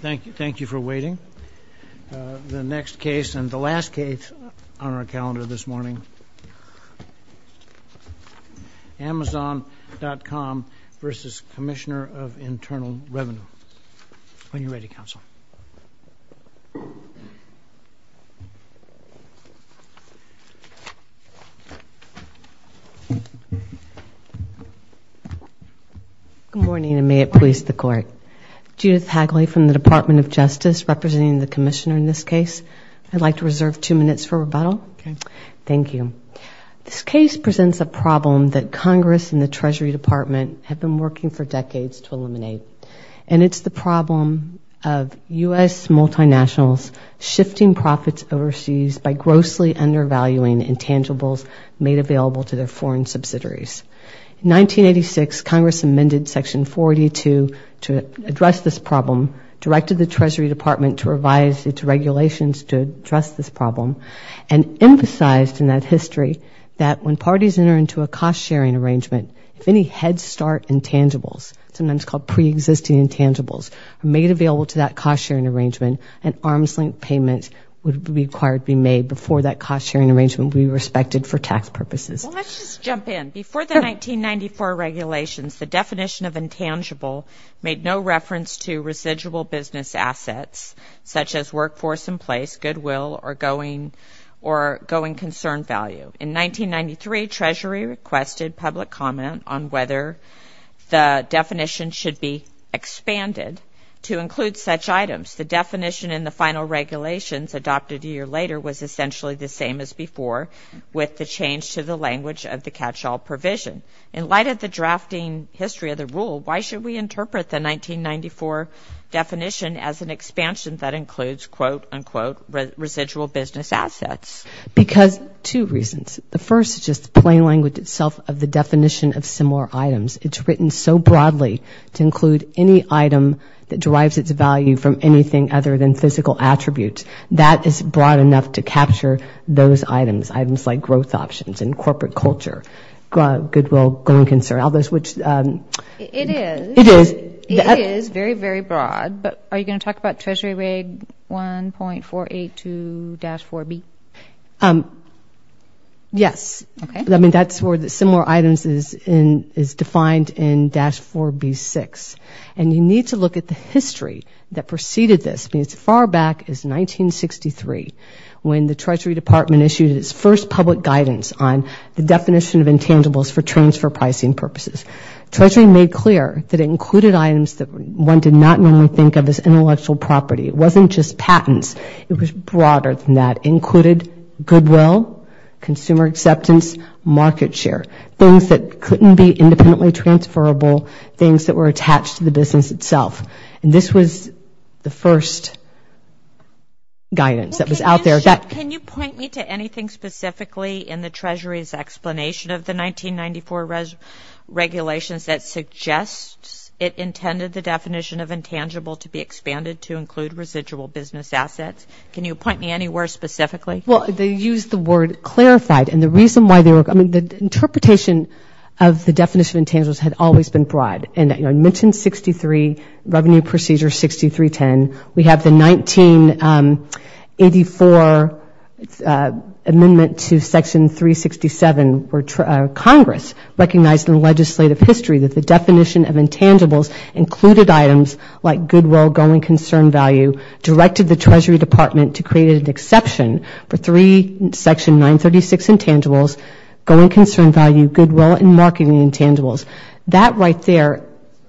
Thank you for waiting. The next case and the last case on our calendar this morning, Amazon.com v. Commissioner of Internal Revenue. When you're ready, Counsel. Good morning, and may it please the Court. Judith Hagley from the Department of Justice representing the Commissioner in this case. I'd like to reserve two minutes for rebuttal. Thank you. This case presents a problem that Congress and the Treasury Department have been working for decades to eliminate, and it's the problem of U.S. multinationals shifting profits overseas by grossly undervaluing intangibles made available to their foreign subsidiaries. In 1986, Congress amended Section 40 to address this problem, directed the Treasury Department to revise its regulations to address this problem, and emphasized in that history that when parties enter into a cost-sharing arrangement, if any head-start intangibles, sometimes called pre-existing intangibles, are made available to that cost-sharing arrangement, an arms-length payment would be required to be made before that cost-sharing arrangement would be respected for tax purposes. Well, let's just jump in. Before the 1994 regulations, the definition of intangible made no reference to residual business assets, such as workforce in place, goodwill, or going concern value. In 1993, Treasury requested public comment on whether the definition should be expanded to include such items. The definition in the final regulations, adopted a year later, was essentially the same as before, with the change to the language of the catch-all provision. In light of the drafting history of the rule, why should we interpret the 1994 definition as an expansion that includes, quote, unquote, residual business assets? Because, two reasons. The first is just the plain language itself of the definition of similar items. It's written so broadly to include any item that derives its value from anything other than physical attributes. That is broad enough to capture those items, items like growth options, and corporate culture, goodwill, going concern, all those which... It is. It is. It is very, very broad, but are you going to talk about Treasury Reg 1.482-4B? Yes. Okay. I mean, that's where the similar items is defined in Dash 4B-6. And you need to look at the history that preceded this. As far back as 1963, when the Treasury Department issued its first public guidance on the definition of intangibles for transfer pricing purposes. Treasury made clear that it included items that one did not normally think of as intellectual property. It wasn't just patents. It was broader than that. It included goodwill, consumer acceptance, market share. Things that couldn't be independently transferable. Things that were attached to the business itself. And this was the first guidance that was out there. Can you point me to anything specifically in the Treasury's explanation of the 1994 regulations that suggests it intended the definition of intangible to be expanded to include residual business assets? Can you point me anywhere specifically? Well, they used the word clarified. And the reason why they were... I mean, the interpretation of the definition of intangibles had always been broad. And, you know, I mentioned 63, Revenue Procedure 6310. We have the 1984 amendment to Section 367 for Congress. Revenue Procedure recognized in the legislative history that the definition of intangibles included items like goodwill, going concern value, directed the Treasury Department to create an exception for three Section 936 intangibles, going concern value, goodwill, and marketing intangibles. That right there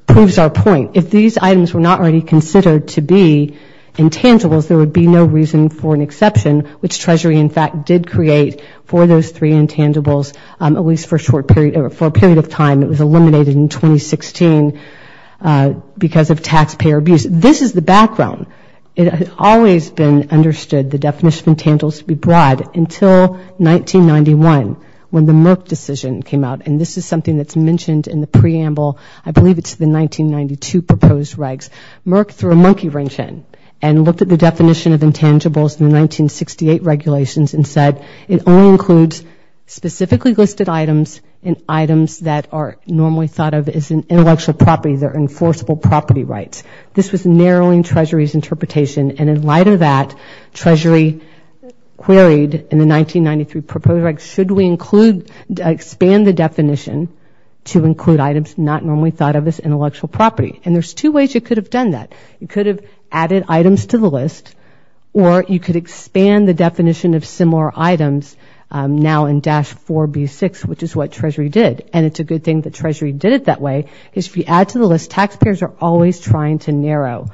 proves our point. If these items were not already considered to be intangibles, there would be no reason for an exception, which Treasury, in fact, did create for those for a period of time. It was eliminated in 2016 because of taxpayer abuse. This is the background. It had always been understood the definition of intangibles to be broad until 1991 when the Merck decision came out. And this is something that's mentioned in the preamble. I believe it's the 1992 proposed regs. Merck threw a monkey wrench in and looked at the definition of intangibles in the 1968 regulations and said it only includes specifically listed items and items that are normally thought of as an intellectual property that are enforceable property rights. This was narrowing Treasury's interpretation. And in light of that, Treasury queried in the 1993 proposed regs, should we include, expand the definition to include items not normally thought of as intellectual property? And there's two ways you could have done that. You could have added items to the list or you could expand the definition of Treasury did. And it's a good thing that Treasury did it that way, is if you add to the list, taxpayers are always trying to narrow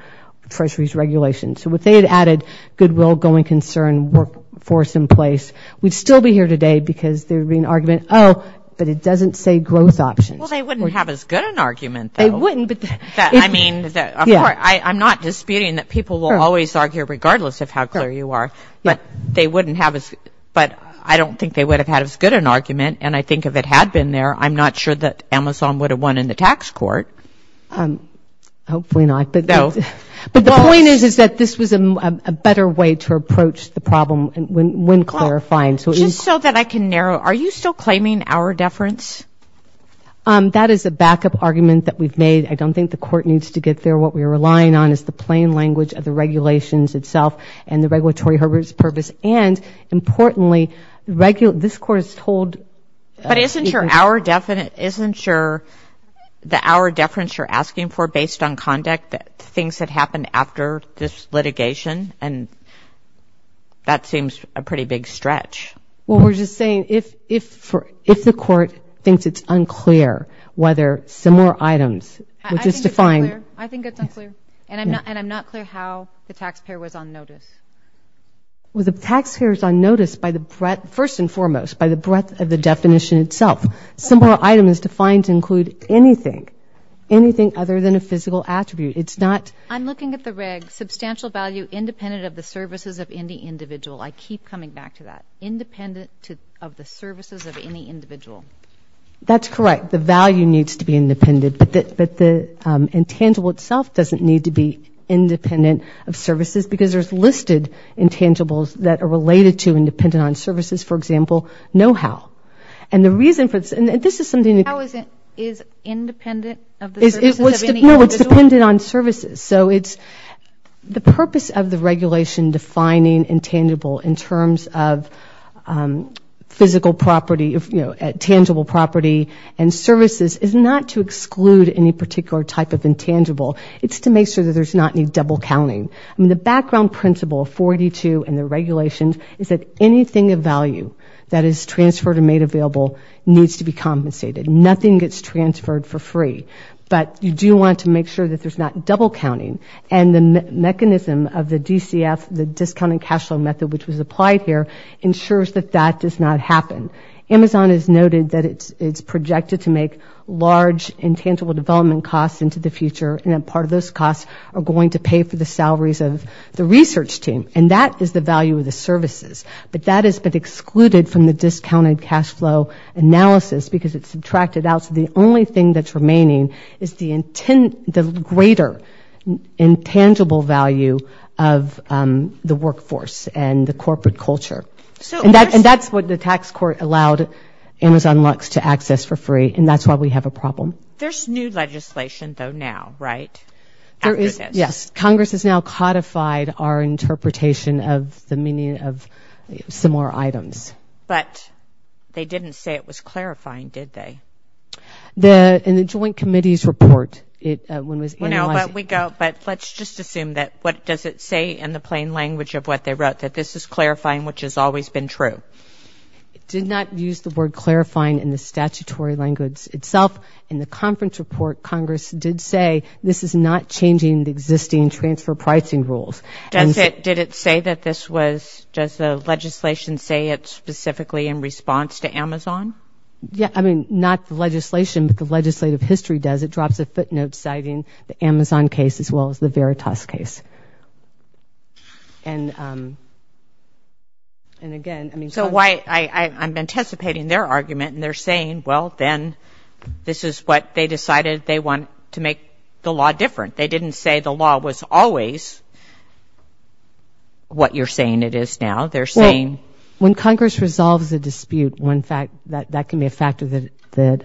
Treasury's regulations. So if they had added goodwill, going concern, workforce in place, we'd still be here today because there would be an argument, oh, but it doesn't say growth options. Well, they wouldn't have as good an argument, though. They wouldn't, but... I mean, of course, I'm not disputing that people will always argue regardless of how popular you are. But they wouldn't have as, but I don't think they would have had as good an argument. And I think if it had been there, I'm not sure that Amazon would have won in the tax court. Hopefully not. No. But the point is, is that this was a better way to approach the problem when clarifying. Just so that I can narrow, are you still claiming our deference? That is a backup argument that we've made. I don't think the court needs to get there. What we're relying on is the plain language of the regulations itself and the regulatory purpose. And importantly, this court is told... But isn't your, our deference, isn't your, the our deference you're asking for based on conduct, the things that happened after this litigation? And that seems a pretty big stretch. Well, we're just saying if the court thinks it's unclear whether similar items were just defined... I think it's unclear. And I'm not, and I'm not clear how the taxpayer was on notice. The taxpayer is on notice by the breadth, first and foremost, by the breadth of the definition itself. Similar item is defined to include anything, anything other than a physical attribute. It's not... I'm looking at the reg. Substantial value independent of the services of any individual. I keep coming back to that. Independent of the services of any individual. That's correct. The value needs to be independent, but the intangible itself doesn't need to be independent of services because there's listed intangibles that are related to and dependent on services, for example, know-how. And the reason for this, and this is something that... Know-how isn't, is independent of the services of any individual? No, it's dependent on services. So it's the purpose of the regulation defining intangible in terms of physical property, tangible property and services is not to exclude any particular type of intangible. It's to make sure that there's not any double counting. I mean, the background principle of 42 and the regulations is that anything of value that is transferred and made available needs to be compensated. Nothing gets transferred for free. But you do want to make sure that there's not double counting. And the mechanism of the DCF, the discounted cash flow method, which was applied here, ensures that that does not happen. Amazon has noted that it's projected to make large intangible development costs into the future and that part of those costs are going to pay for the salaries of the research team. And that is the value of the services. But that has been excluded from the discounted cash flow analysis because it's subtracted out. So the only thing that's remaining is the greater intangible value of the workforce and the corporate culture. And that's what the tax court allowed Amazon Lux to access for free. And that's why we have a problem. There's new legislation, though, now, right? There is, yes. Congress has now codified our interpretation of the meaning of similar items. But they didn't say it was clarifying, did they? In the joint committee's report, when it was analyzed... No, but we go, but let's just assume that, what does it say in the plain language of what they wrote, that this is clarifying, which has always been true? It did not use the word clarifying in the statutory language itself. In the conference report, Congress did say this is not changing the existing transfer pricing rules. Did it say that this was, does the legislation say it specifically in response to Amazon? Yeah, I mean, not the legislation, but the legislative history does. It drops a footnote citing the Amazon case as well as the Veritas case. And again, I mean... So why, I'm anticipating their argument, and they're saying, well, then this is what they decided they want to make the law different. They didn't say the law was always what you're saying it is now. They're saying... That can be a factor that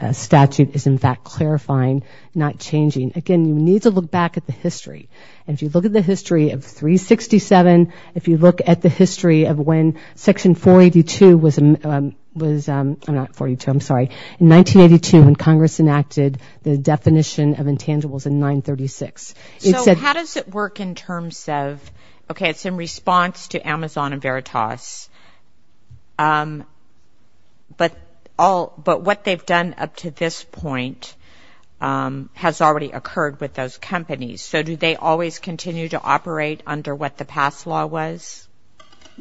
a statute is, in fact, clarifying, not changing. Again, you need to look back at the history. And if you look at the history of 367, if you look at the history of when Section 482 was... I'm not 42, I'm sorry. In 1982, when Congress enacted the definition of intangibles in 936, it said... So how does it work in terms of, okay, it's in response to Amazon and Veritas, but the all... But what they've done up to this point has already occurred with those companies. So do they always continue to operate under what the past law was?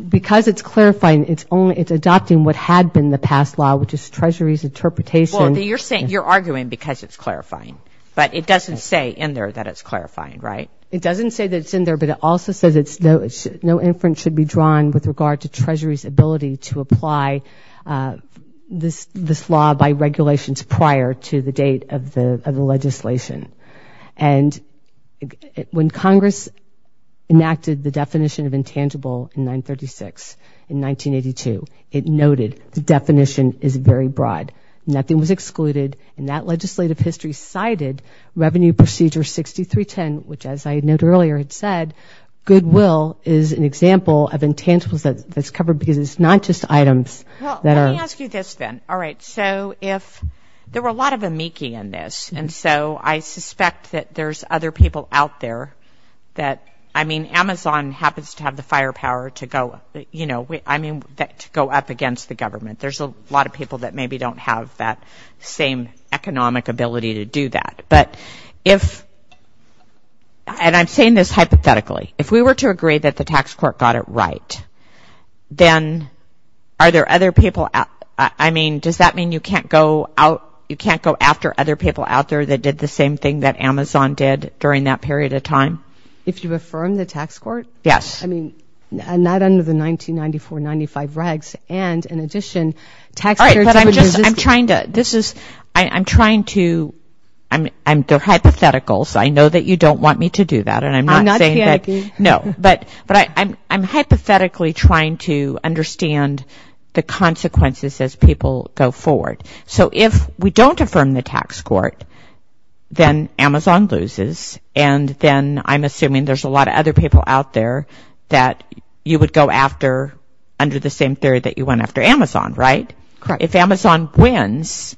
Because it's clarifying, it's only... It's adopting what had been the past law, which is Treasury's interpretation. Well, you're arguing because it's clarifying, but it doesn't say in there that it's clarifying, right? It doesn't say that it's in there, but it also says no inference should be drawn with regard to Treasury's ability to apply this law by regulations prior to the date of the legislation. And when Congress enacted the definition of intangible in 936, in 1982, it noted the definition is very broad. Nothing was excluded, and that legislative history cited Revenue Procedure 6310, which, as I had noted earlier, had said, goodwill is an intangible that's covered because it's not just items that are... Well, let me ask you this then. All right. So if... There were a lot of amici in this, and so I suspect that there's other people out there that... I mean, Amazon happens to have the firepower to go... I mean, to go up against the government. There's a lot of people that maybe don't have that same economic ability to do that. But if... And I'm saying this hypothetically. If we were to agree that the tax court got it right, then are there other people... I mean, does that mean you can't go out... You can't go after other people out there that did the same thing that Amazon did during that period of time? If you affirm the tax court? Yes. I mean, not under the 1994-95 regs, and in addition, tax... All right, but I'm just... I'm trying to... This is... I'm trying to... I'm... They're not going to want me to do that, and I'm not saying that... I'm not saying that. No. But I'm hypothetically trying to understand the consequences as people go forward. So if we don't affirm the tax court, then Amazon loses, and then I'm assuming there's a lot of other people out there that you would go after under the same period that you went after Amazon, right? Correct. If Amazon wins,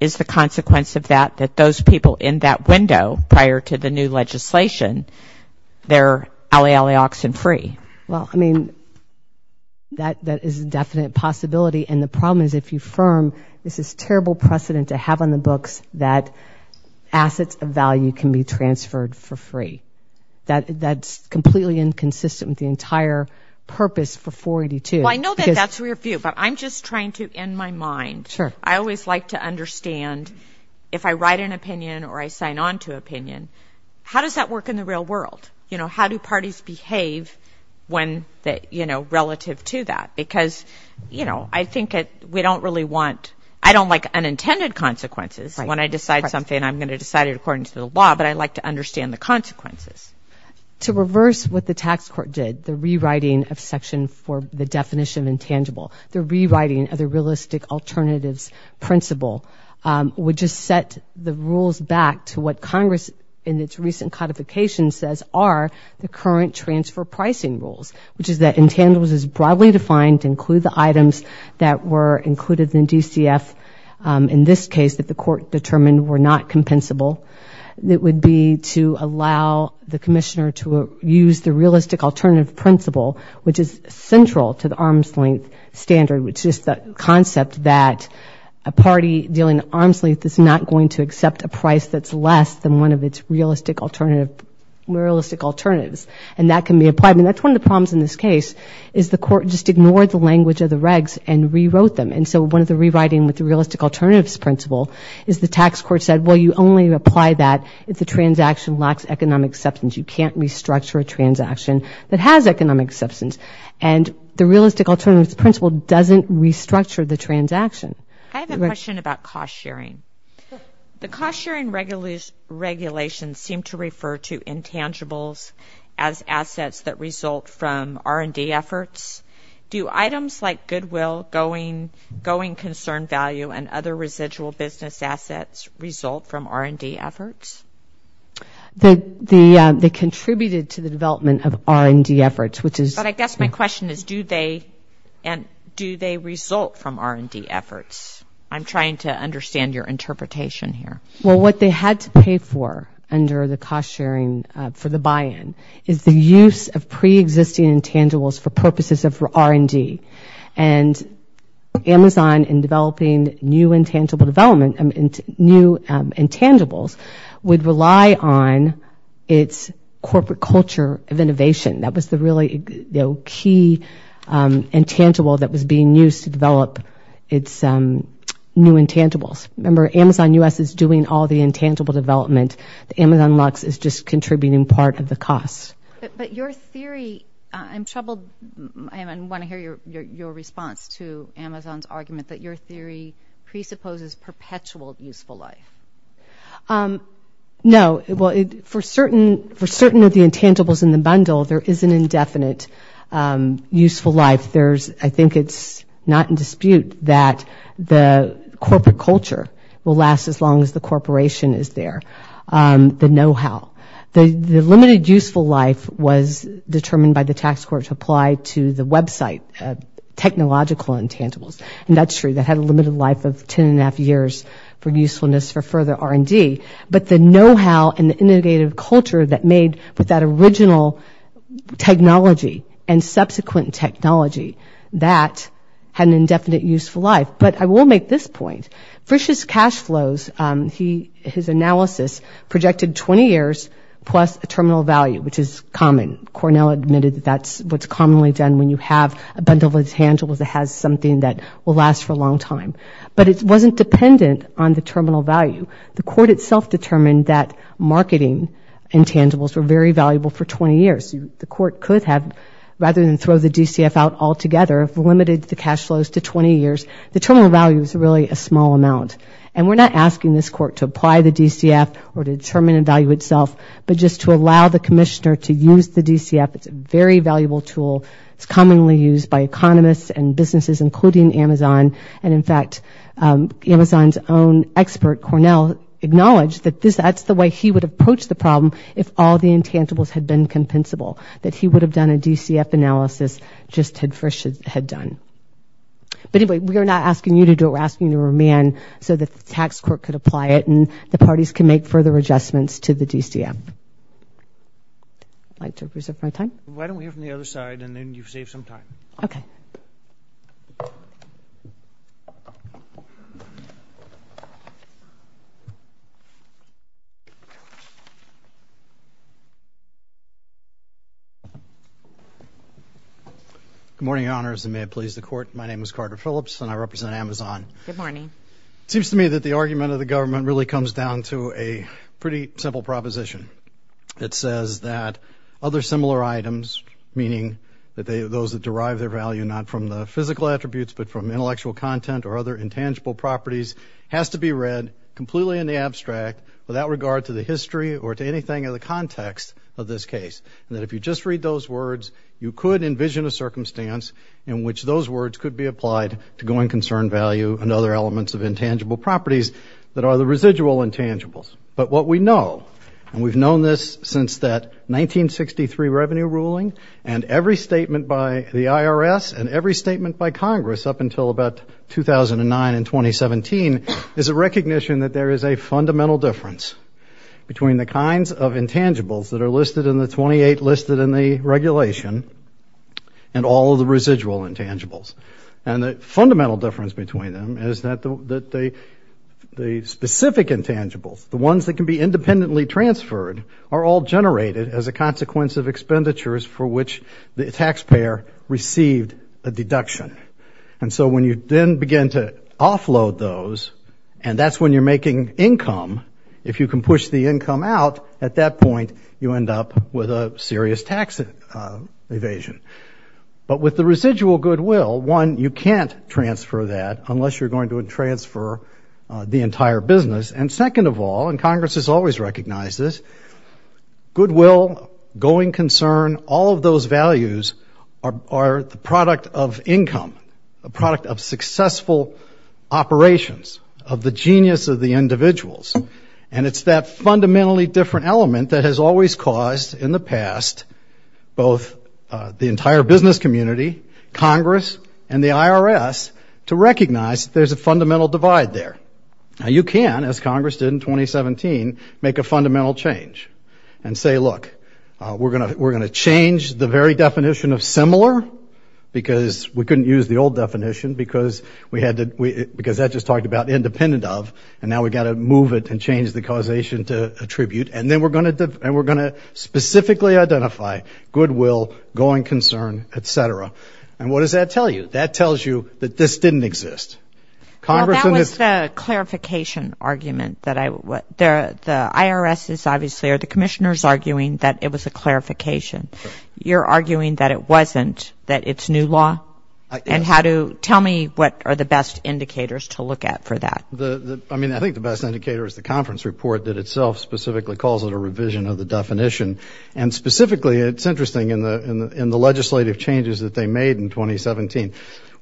is the consequence of that that those people in that window prior to the new legislation, they're alley, alley, oxen free? Well, I mean, that is a definite possibility, and the problem is if you affirm, this is terrible precedent to have on the books that assets of value can be transferred for free. That's completely inconsistent with the entire purpose for 482, because... Well, I know that that's your view, but I'm just trying to, in my mind, I always like to understand if I write an opinion or I sign on to opinion, how does that work in the real world? How do parties behave relative to that? Because I think we don't really want... I don't like unintended consequences. When I decide something, I'm going to decide it according to the law, but I like to understand the consequences. To reverse what the tax court did, the rewriting of section for the definition of intangible, the rewriting of the realistic alternatives principle, would just set the rules back to what Congress in its recent codification says are the current transfer pricing rules, which is that intangibles is broadly defined to include the items that were included in DCF. In this case, that the court determined were not compensable. It would be to allow the commissioner to use the realistic alternative principle, which is central to the arm's length standard, which is the concept that a party dealing arm's length is not going to accept a price that's less than one of its realistic alternatives. And that can be applied. And that's one of the problems in this case, is the court just ignored the language of the regs and rewrote them. And so one of the rewriting with the realistic alternatives principle is the tax court said, well, you only apply that if the transaction lacks economic substance. You can't restructure a transaction that has economic substance. And the realistic alternatives principle doesn't restructure the transaction. I have a question about cost sharing. The cost sharing regulations seem to refer to intangibles as assets that result from R&D efforts. Do items like goodwill, going, going concern value, and other residual business assets result from R&D efforts? They contributed to the development of R&D efforts, which is But I guess my question is, do they result from R&D efforts? I'm trying to understand your interpretation here. Well, what they had to pay for under the cost sharing for the buy-in is the use of preexisting intangibles for purposes of R&D. And Amazon, in developing new intangibles, would rely on its corporate culture of innovation. That was the really key intangible that was being used to develop its new intangibles. Remember, Amazon U.S. is doing all the intangible development. Amazon Lux is just contributing part of the cost. But your theory, I'm troubled, and I want to hear your response to Amazon's argument that your theory presupposes perpetual useful life. No. Well, for certain of the intangibles in the bundle, there is an indefinite useful life. There's, I think it's not in dispute that the corporate culture will last as long as the corporation is there, the know-how. The limited useful life was determined by the tax court to apply to the website, technological intangibles. And that's true. That had a limited life of 10 1⁄2 years for usefulness for further R&D. But the know-how and the innovative culture that made with that original technology and subsequent technology, that had an indefinite useful life. But I will make this point. Frisch's cash flows, his analysis projected 20 years plus a terminal value, which is common. Cornell admitted that that's what's commonly done when you have a bundle of intangibles that has something that will last for a long time. But it wasn't dependent on the terminal value. The court itself determined that marketing intangibles were very valuable for 20 years. The court could have, rather than throw the DCF out altogether, limited the cash flows to 20 years. The terminal value is really a small amount. And we're not asking this court to apply the DCF or to determine the value itself, but just to allow the commissioner to use the DCF. It's a very valuable tool. It's commonly used by economists and businesses, including Amazon. And in fact, Amazon's own expert, Cornell, acknowledged that that's the way he would approach the problem if all the intangibles had been compensable, that he would have done a DCF analysis just had Frisch had done. But anyway, we are not asking you to do it. We're asking you to remain so that the tax court could apply it and the parties can make further adjustments to the DCF. I'd like to reserve my time. Why don't we hear from the other side, and then you've saved some time. Okay. Good morning, Your Honors, and may it please the Court. My name is Carter Phillips, and I represent Amazon. Good morning. It seems to me that the argument of the government really comes down to a pretty simple proposition. It says that other similar items, meaning those that derive their value not from the physical attributes, but from intellectual content or other intangible properties, has to be read completely in the abstract without regard to the history or to anything in the context of this case, and that if you just read those words, you could envision a circumstance in which those words could be applied to going concern value and other elements of intangible And we've known this since that 1963 revenue ruling, and every statement by the IRS and every statement by Congress up until about 2009 and 2017 is a recognition that there is a fundamental difference between the kinds of intangibles that are listed in the 28 listed in the regulation and all of the residual intangibles. And the fundamental difference between them is that the specific intangibles, the ones that can be independently transferred, are all generated as a consequence of expenditures for which the taxpayer received a deduction. And so when you then begin to offload those, and that's when you're making income, if you can push the income out, at that point you end up with a serious tax evasion. But with the residual goodwill, one, you can't transfer that unless you're going to transfer the entire business, and second of all, and Congress has always recognized this, goodwill, going concern, all of those values are the product of income, a product of successful operations, of the genius of the individuals. And it's that fundamentally different element that has always caused, in the past, both the entire business community, Congress, and the IRS, to recognize that there's a fundamental divide there. Now, you can, as Congress did in 2017, make a fundamental change and say, look, we're going to change the very definition of similar, because we couldn't use the old definition, because that just talked about independent of, and now we've got to move it and change the causation to attribute, and then we're going to specifically identify goodwill, going concern, et cetera. And what does that tell you? That tells you that this didn't exist. Well, that was the clarification argument that I, the IRS is obviously, or the Commissioner is arguing that it was a clarification. You're arguing that it wasn't, that it's new law? And how do, tell me what are the best indicators to look at for that? I mean, I think the best indicator is the conference report that itself specifically calls it a revision of the definition, and specifically, it's interesting in the legislative changes that they made in 2017,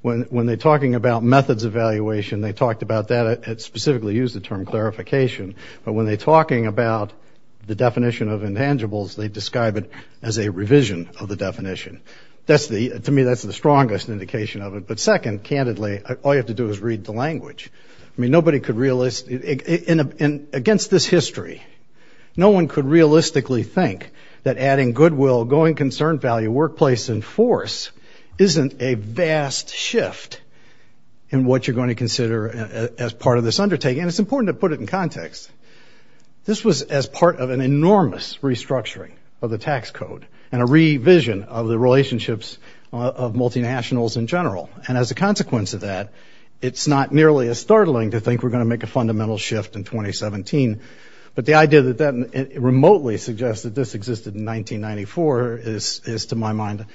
when they're talking about methods evaluation, they talked about that, it specifically used the term clarification, but when they're talking about the definition of intangibles, they describe it as a revision of the definition. That's the, to me, that's the strongest indication of it. But second, candidly, all you have to do is read the language. I mean, nobody could, against this history, no one could realistically think that adding goodwill, going concern, value, workplace, and force isn't a vast shift in what you're going to consider as part of this undertaking. And it's important to put it in context. This was as part of an enormous restructuring of the tax code, and a revision of the relationships of multinationals in general. And as a consequence of that, it's not nearly as startling to think we're going to make a fundamental shift in 2017, but the idea that that remotely suggests that this existed in 1994 is, to my mind,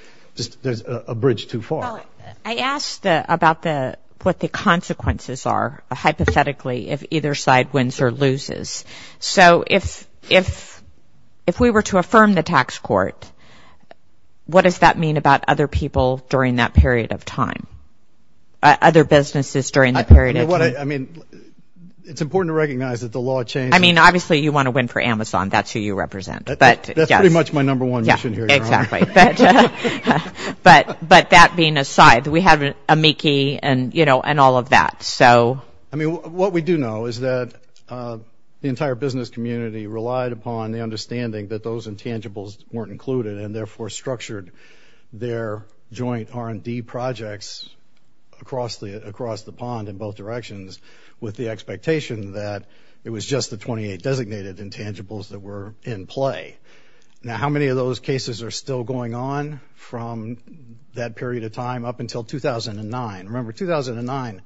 a bridge too far. Well, I asked about what the consequences are, hypothetically, if either side wins or loses. So if we were to affirm the tax court, what does that mean about other people during that period of time? Other businesses during that period of time? I mean, it's important to recognize that the law changes. I mean, obviously, you want to win for Amazon. That's who you represent. That's pretty much my number one mission here. Yeah, exactly. But that being aside, we have amici and all of that. I mean, what we do know is that the entire business community relied upon the understanding that those intangibles weren't included and therefore structured their joint R&D projects across the pond in both directions with the expectation that it was just the 28 designated intangibles that were in play. Now, how many of those cases are still going on from that period of time up until 2009? Remember, 2009,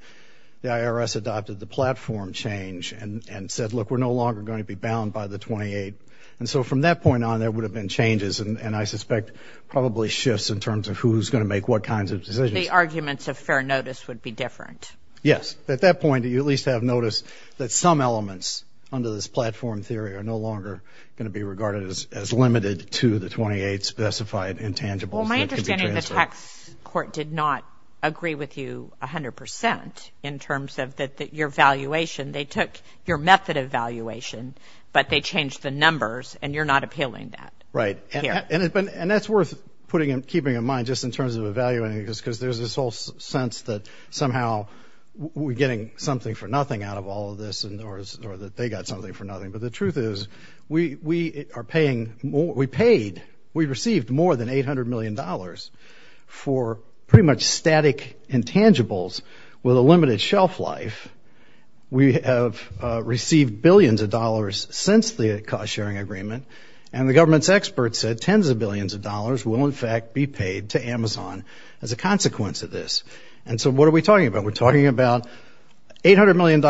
the IRS adopted the platform change and said, look, we're no longer going to be bound by the 28. And so from that point on, there would have been changes and I suspect probably shifts in terms of who's going to make what kinds of decisions. The arguments of fair notice would be different. Yes. At that point, you at least have noticed that some elements under this platform theory are no longer going to be regarded as limited to the 28 specified intangibles. Well, my understanding is the tax court did not agree with you 100 percent in terms of your valuation. They took your method of valuation, but they changed the numbers and you're not appealing that. Right. And that's worth putting and keeping in mind just in terms of evaluating this, because there's this whole sense that somehow we're getting something for nothing out of all of this or that they got something for nothing. But the truth is we are paying more, we paid, we received more than $800 million for pretty much static intangibles with a limited shelf life. We have received billions of dollars since the cost-sharing agreement, and the government's experts said tens of billions of dollars will in fact be paid to Amazon as a consequence of this. And so what are we talking about? We're talking about $800 million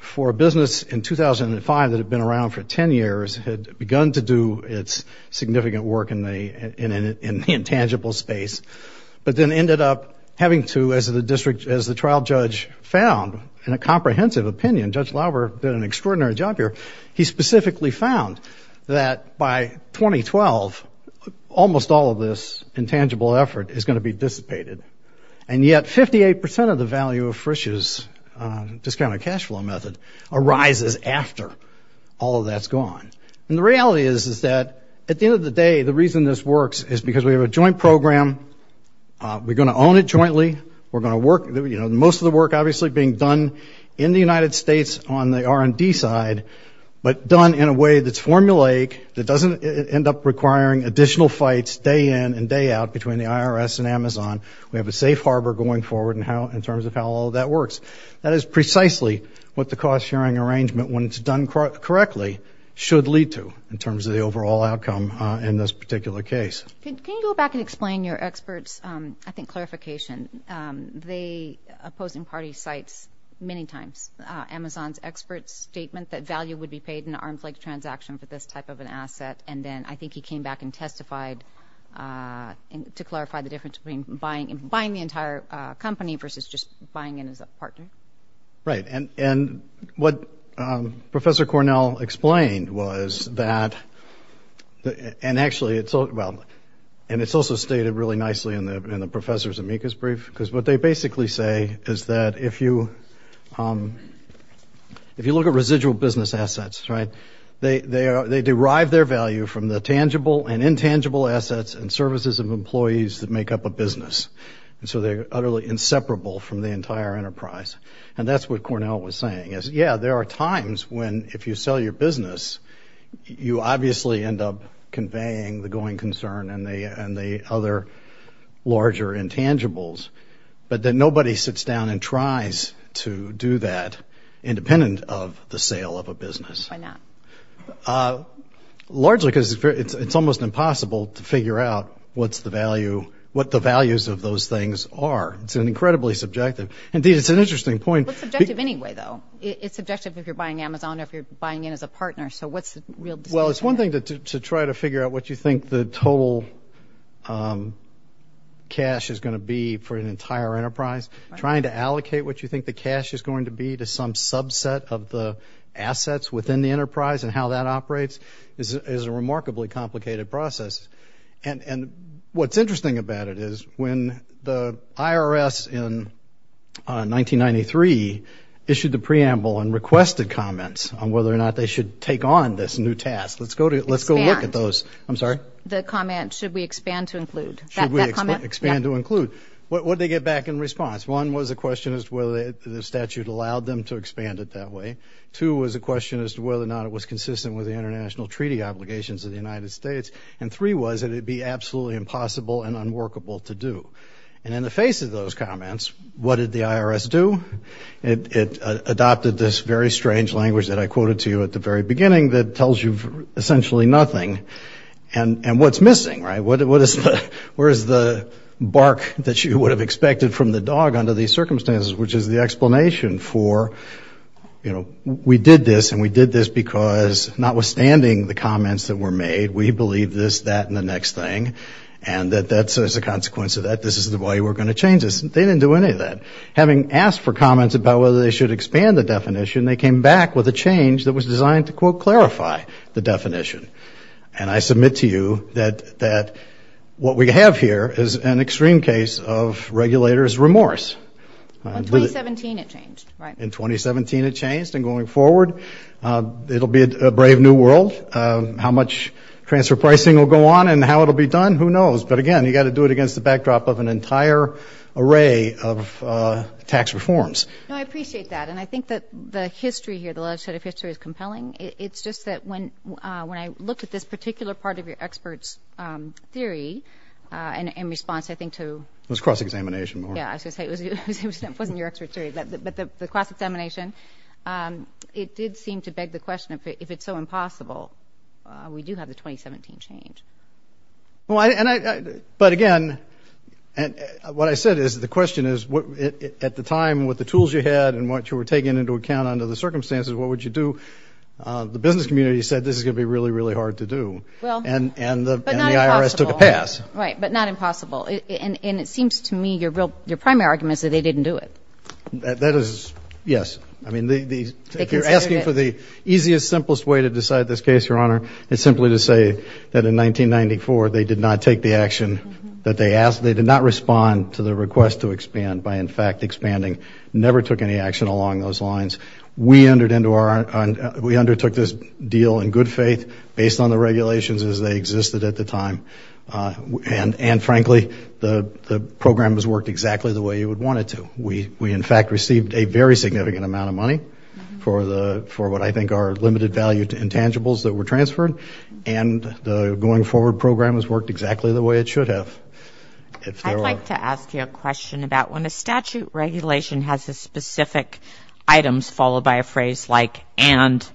for a business in 2005 that had been around for 10 years, had begun to do its significant work in the intangible space, but then ended up having to, as the trial judge found in a comprehensive opinion, Judge Lauber did an extraordinary job here, he specifically found that by 2012, almost all of this intangible effort is going to be dissipated. And yet 58 percent of the value of Frisch's discounted cash flow method arises after all of that's gone. And the reality is that at the end of the day, the reason this works is because we have a joint program, we're going to own it jointly, we're going to work, you know, most of the work obviously being done in the United States on the R&D side, but done in a way that's formulaic, that doesn't end up requiring additional fights day in and day out between the IRS and Amazon. We have a safe harbor going forward in terms of how all of that works. That is precisely what the cost-sharing arrangement, when it's done correctly, should lead to in terms of the overall outcome in this particular case. Can you go back and explain your expert's, I think, clarification? The opposing party cites many times Amazon's expert's statement that value would be paid in an arm's length transaction for this type of an asset, and then I think he came back and testified to clarify the difference between buying the entire company versus just buying in as a partner. Right, and what Professor Cornell explained was that, and actually it's, well, and it's also stated really nicely in the professor's amicus brief, because what they basically say is that if you look at residual business assets, right, they derive their value from the tangible and intangible assets and services of employees that make up a business, and so they're utterly inseparable from the entire enterprise. And that's what Cornell was saying is, yeah, there are times when if you sell your business, you obviously end up conveying the going concern and the other larger intangibles, but then nobody sits down and tries to do that independent of the sale of a business. Why not? Largely because it's almost impossible to figure out what the values of those things are. It's incredibly subjective. Indeed, it's an interesting point. But subjective anyway, though. It's subjective if you're buying Amazon or if you're buying in as a partner. So what's the real distinction there? Well, it's one thing to try to figure out what you think the total cash is going to be for an entire enterprise, trying to allocate what you think the cash is going to be to some subset of the assets within the enterprise and how that operates is a remarkably complicated process. And what's interesting about it is when the IRS in 1993 issued the preamble and requested comments on whether or not they should take on this new task. Let's go look at those. Expand. I'm sorry? The comment, should we expand to include. Should we expand to include? What did they get back in response? One was a question as to whether the statute allowed them to expand it that way. Two was a question as to whether or not it was consistent with the international treaty obligations of the United States. And three was that it would be absolutely impossible and unworkable to do. And in the face of those comments, what did the IRS do? It adopted this very strange language that I quoted to you at the very beginning that tells you essentially nothing. And what's missing, right? What is the bark that you would have expected from the dog under these circumstances, which is the explanation for, you know, we did this, and we did this because notwithstanding the comments that were made, we believe this, that, and the next thing, and that as a consequence of that, this is the way we're going to change this. They didn't do any of that. Having asked for comments about whether they should expand the definition, they came back with a change that was designed to, quote, clarify the definition. And I submit to you that what we have here is an extreme case of regulators' remorse. In 2017, it changed, right? In 2017, it changed. And going forward, it will be a brave new world. How much transfer pricing will go on and how it will be done, who knows? But, again, you've got to do it against the backdrop of an entire array of tax reforms. No, I appreciate that. And I think that the history here, the legislative history is compelling. It's just that when I looked at this particular part of your expert's theory in response, I think, to ‑‑ It was cross-examination, Maura. Yeah, I was going to say it wasn't your expert's theory, but the cross-examination, it did seem to beg the question, if it's so impossible, we do have the 2017 change. But, again, what I said is the question is, at the time, with the tools you had and what you were taking into account under the circumstances, what would you do? The business community said this is going to be really, really hard to do. Well, but not impossible. And the IRS took a pass. Right, but not impossible. And it seems to me your primary argument is that they didn't do it. That is, yes. I mean, if you're asking for the easiest, simplest way to decide this case, Your Honor, it's simply to say that in 1994, they did not take the action that they asked. They did not respond to the request to expand by, in fact, expanding. Never took any action along those lines. We undertook this deal in good faith based on the regulations as they existed at the time. And, frankly, the program has worked exactly the way you would want it to. We, in fact, received a very significant amount of money for what I think are limited value intangibles that were transferred, and the going forward program has worked exactly the way it should have. I'd like to ask you a question about when a statute regulation has a specific items followed by a phrase like and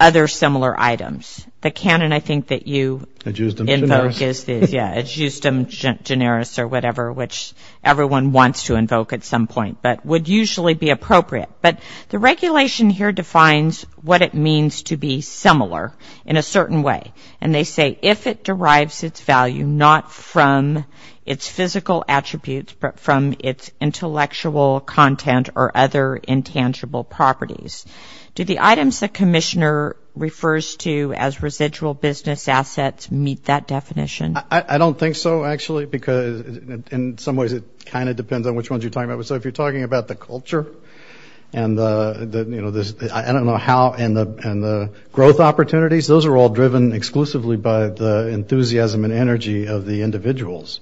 other similar items. The canon, I think, that you invoke is the ad justem generis or whatever, which everyone wants to invoke at some point, but would usually be appropriate. But the regulation here defines what it means to be similar in a certain way, and they say if it derives its value not from its physical attributes, but from its intellectual content or other intangible properties. Do the items the commissioner refers to as residual business assets meet that definition? I don't think so, actually, because in some ways it kind of depends on which ones you're talking about. So if you're talking about the culture and the, you know, I don't know how, and the growth opportunities, those are all driven exclusively by the enthusiasm and energy of the individuals.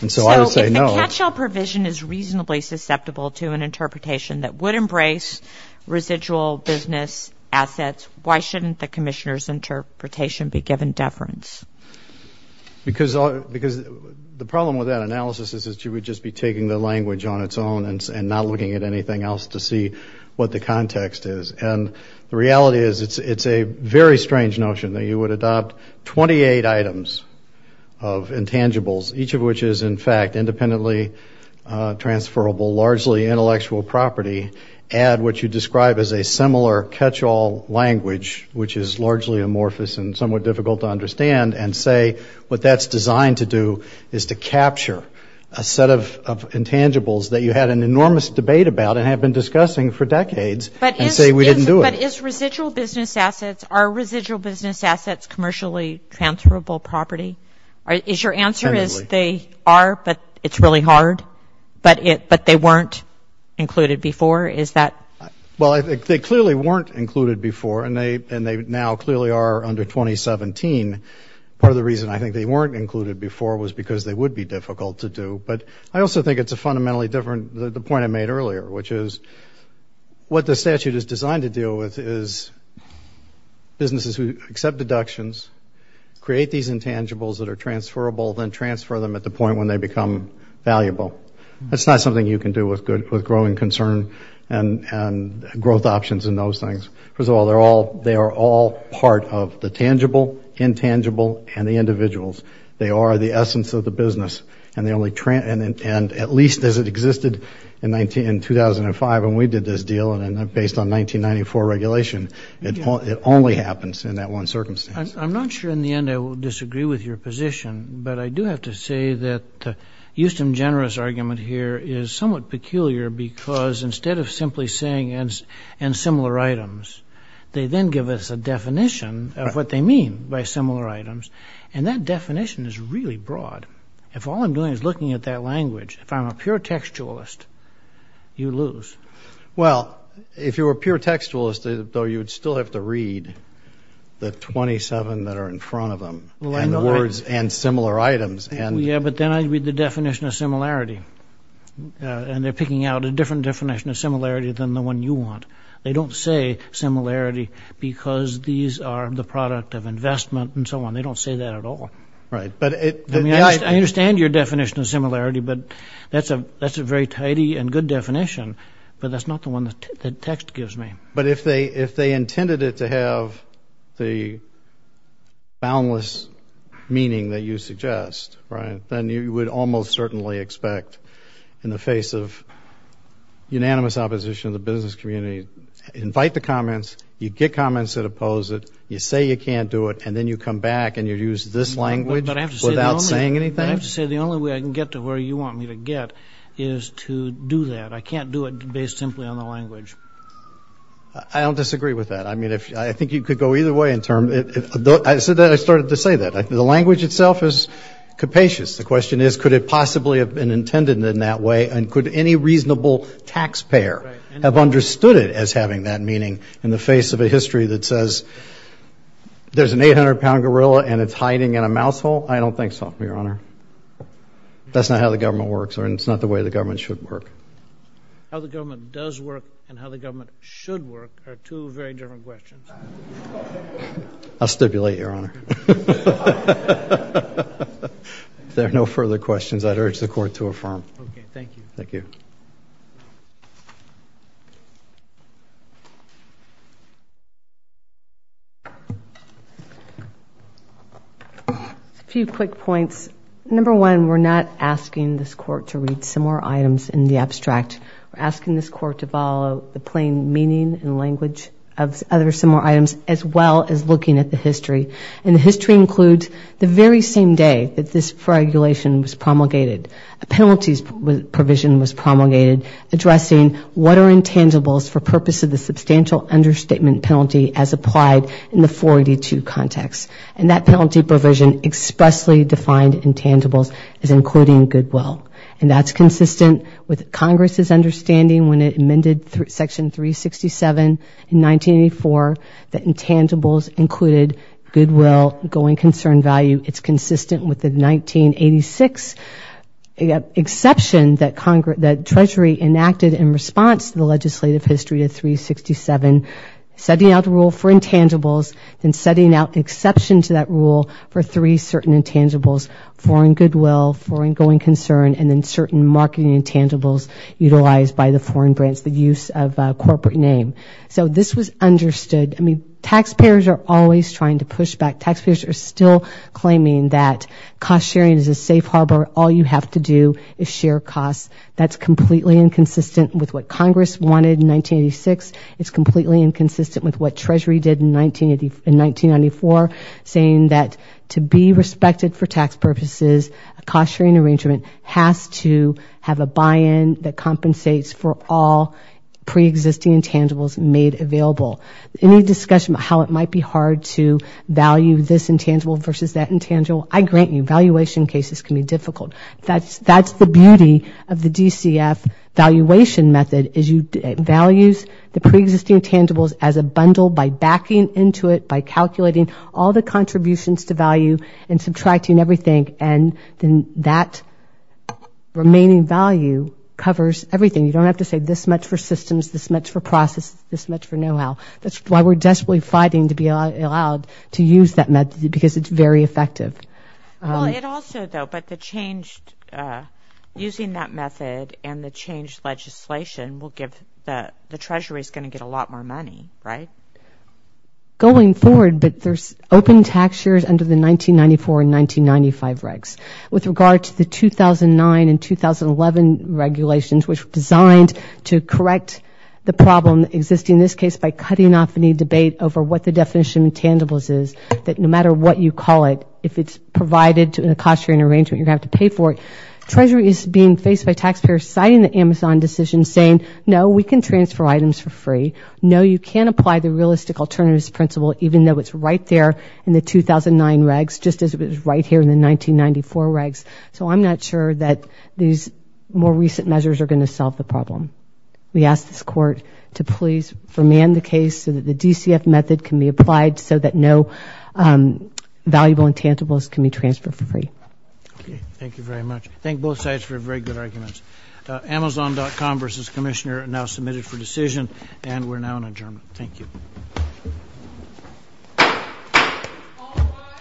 And so I would say no. So if the catch-all provision is reasonably susceptible to an interpretation that would embrace residual business assets, why shouldn't the commissioner's interpretation be given deference? Because the problem with that analysis is that you would just be taking the language on its own and not looking at anything else to see what the context is. And the reality is it's a very strange notion that you would adopt 28 items of intangibles, each of which is, in fact, independently transferable, largely intellectual property, add what you describe as a similar catch-all language, which is largely amorphous and somewhat difficult to understand, and say what that's designed to do is to capture a set of intangibles that you had an enormous debate about and have been discussing for decades and say we didn't do it. But is residual business assets, are residual business assets commercially transferable property? Is your answer is they are, but it's really hard? But they weren't included before? Well, I think they clearly weren't included before, and they now clearly are under 2017. Part of the reason I think they weren't included before was because they would be difficult to do. But I also think it's a fundamentally different point I made earlier, which is what the statute is designed to deal with is businesses who accept deductions, create these intangibles that are transferable, then transfer them at the point when they become valuable. That's not something you can do with growing concern and growth options and those things. First of all, they are all part of the tangible, intangible, and the individuals. They are the essence of the business, and at least as it existed in 2005 when we did this deal, and based on 1994 regulation, it only happens in that one circumstance. I'm not sure in the end I will disagree with your position, but I do have to say that the Houston Generous argument here is somewhat peculiar because instead of simply saying, and similar items, they then give us a definition of what they mean by similar items, and that definition is really broad. If all I'm doing is looking at that language, if I'm a pure textualist, you lose. Well, if you were a pure textualist, though, you would still have to read the 27 that are in front of them and the words and similar items. Yeah, but then I'd read the definition of similarity, and they're picking out a different definition of similarity than the one you want. They don't say similarity because these are the product of investment and so on. They don't say that at all. I understand your definition of similarity, but that's a very tidy and good definition, but that's not the one the text gives me. But if they intended it to have the boundless meaning that you suggest, right, then you would almost certainly expect in the face of unanimous opposition of the business community, invite the comments, you get comments that oppose it, you say you can't do it, and then you come back and you use this language without saying anything? I have to say the only way I can get to where you want me to get is to do that. I can't do it based simply on the language. I don't disagree with that. I mean, I think you could go either way. I said that and I started to say that. The language itself is capacious. The question is could it possibly have been intended in that way, and could any reasonable taxpayer have understood it as having that meaning in the face of a history that says there's an 800-pound gorilla and it's hiding in a mouse hole? I don't think so, Your Honor. That's not how the government works, and it's not the way the government should work. How the government does work and how the government should work are two very different questions. I'll stipulate, Your Honor. If there are no further questions, I'd urge the Court to affirm. Okay, thank you. Thank you. A few quick points. Number one, we're not asking this Court to read similar items in the abstract. We're asking this Court to follow the plain meaning and language of other similar items as well as looking at the history. And the history includes the very same day that this regulation was promulgated. A penalties provision was promulgated. addressing what are intangibles for purpose of the substantial understatement penalty as applied in the 482 context. And that penalty provision expressly defined intangibles as including goodwill. And that's consistent with Congress's understanding when it amended Section 367 in 1984 that intangibles included goodwill going concern value. It's consistent with the 1986 exception that Treasury enacted in response to the legislative history of 367, setting out the rule for intangibles and setting out exception to that rule for three certain intangibles, foreign goodwill, foreign going concern, and then certain marketing intangibles utilized by the foreign branch, the use of corporate name. So this was understood. I mean, taxpayers are always trying to push back. Taxpayers are still claiming that cost sharing is a safe harbor. All you have to do is share costs. That's completely inconsistent with what Congress wanted in 1986. It's completely inconsistent with what Treasury did in 1994, saying that to be respected for tax purposes, a cost-sharing arrangement has to have a buy-in that compensates for all preexisting intangibles made available. Any discussion about how it might be hard to value this intangible versus that intangible, I grant you, valuation cases can be difficult. That's the beauty of the DCF valuation method, is it values the preexisting intangibles as a bundle by backing into it, by calculating all the contributions to value and subtracting everything, and then that remaining value covers everything. You don't have to say this much for systems, this much for process, this much for know-how. That's why we're desperately fighting to be allowed to use that method, because it's very effective. Well, it also, though, but the change using that method and the changed legislation will give the Treasury's going to get a lot more money, right? Going forward, but there's open tax shares under the 1994 and 1995 regs. With regard to the 2009 and 2011 regulations, which were designed to correct the problem existing in this case by cutting off any debate over what the definition of intangibles is, that no matter what you call it, if it's provided in a cost-sharing arrangement, you're going to have to pay for it. Treasury is being faced by taxpayers citing the Amazon decision saying, no, we can transfer items for free. No, you can't apply the realistic alternatives principle, even though it's right there in the 2009 regs, just as it was right here in the 1994 regs. So I'm not sure that these more recent measures are going to solve the problem. We ask this Court to please remand the case so that the DCF method can be applied so that no valuable intangibles can be transferred for free. Okay, thank you very much. Thank both sides for very good arguments. Amazon.com versus Commissioner are now submitted for decision, and we're now in adjournment. Thank you.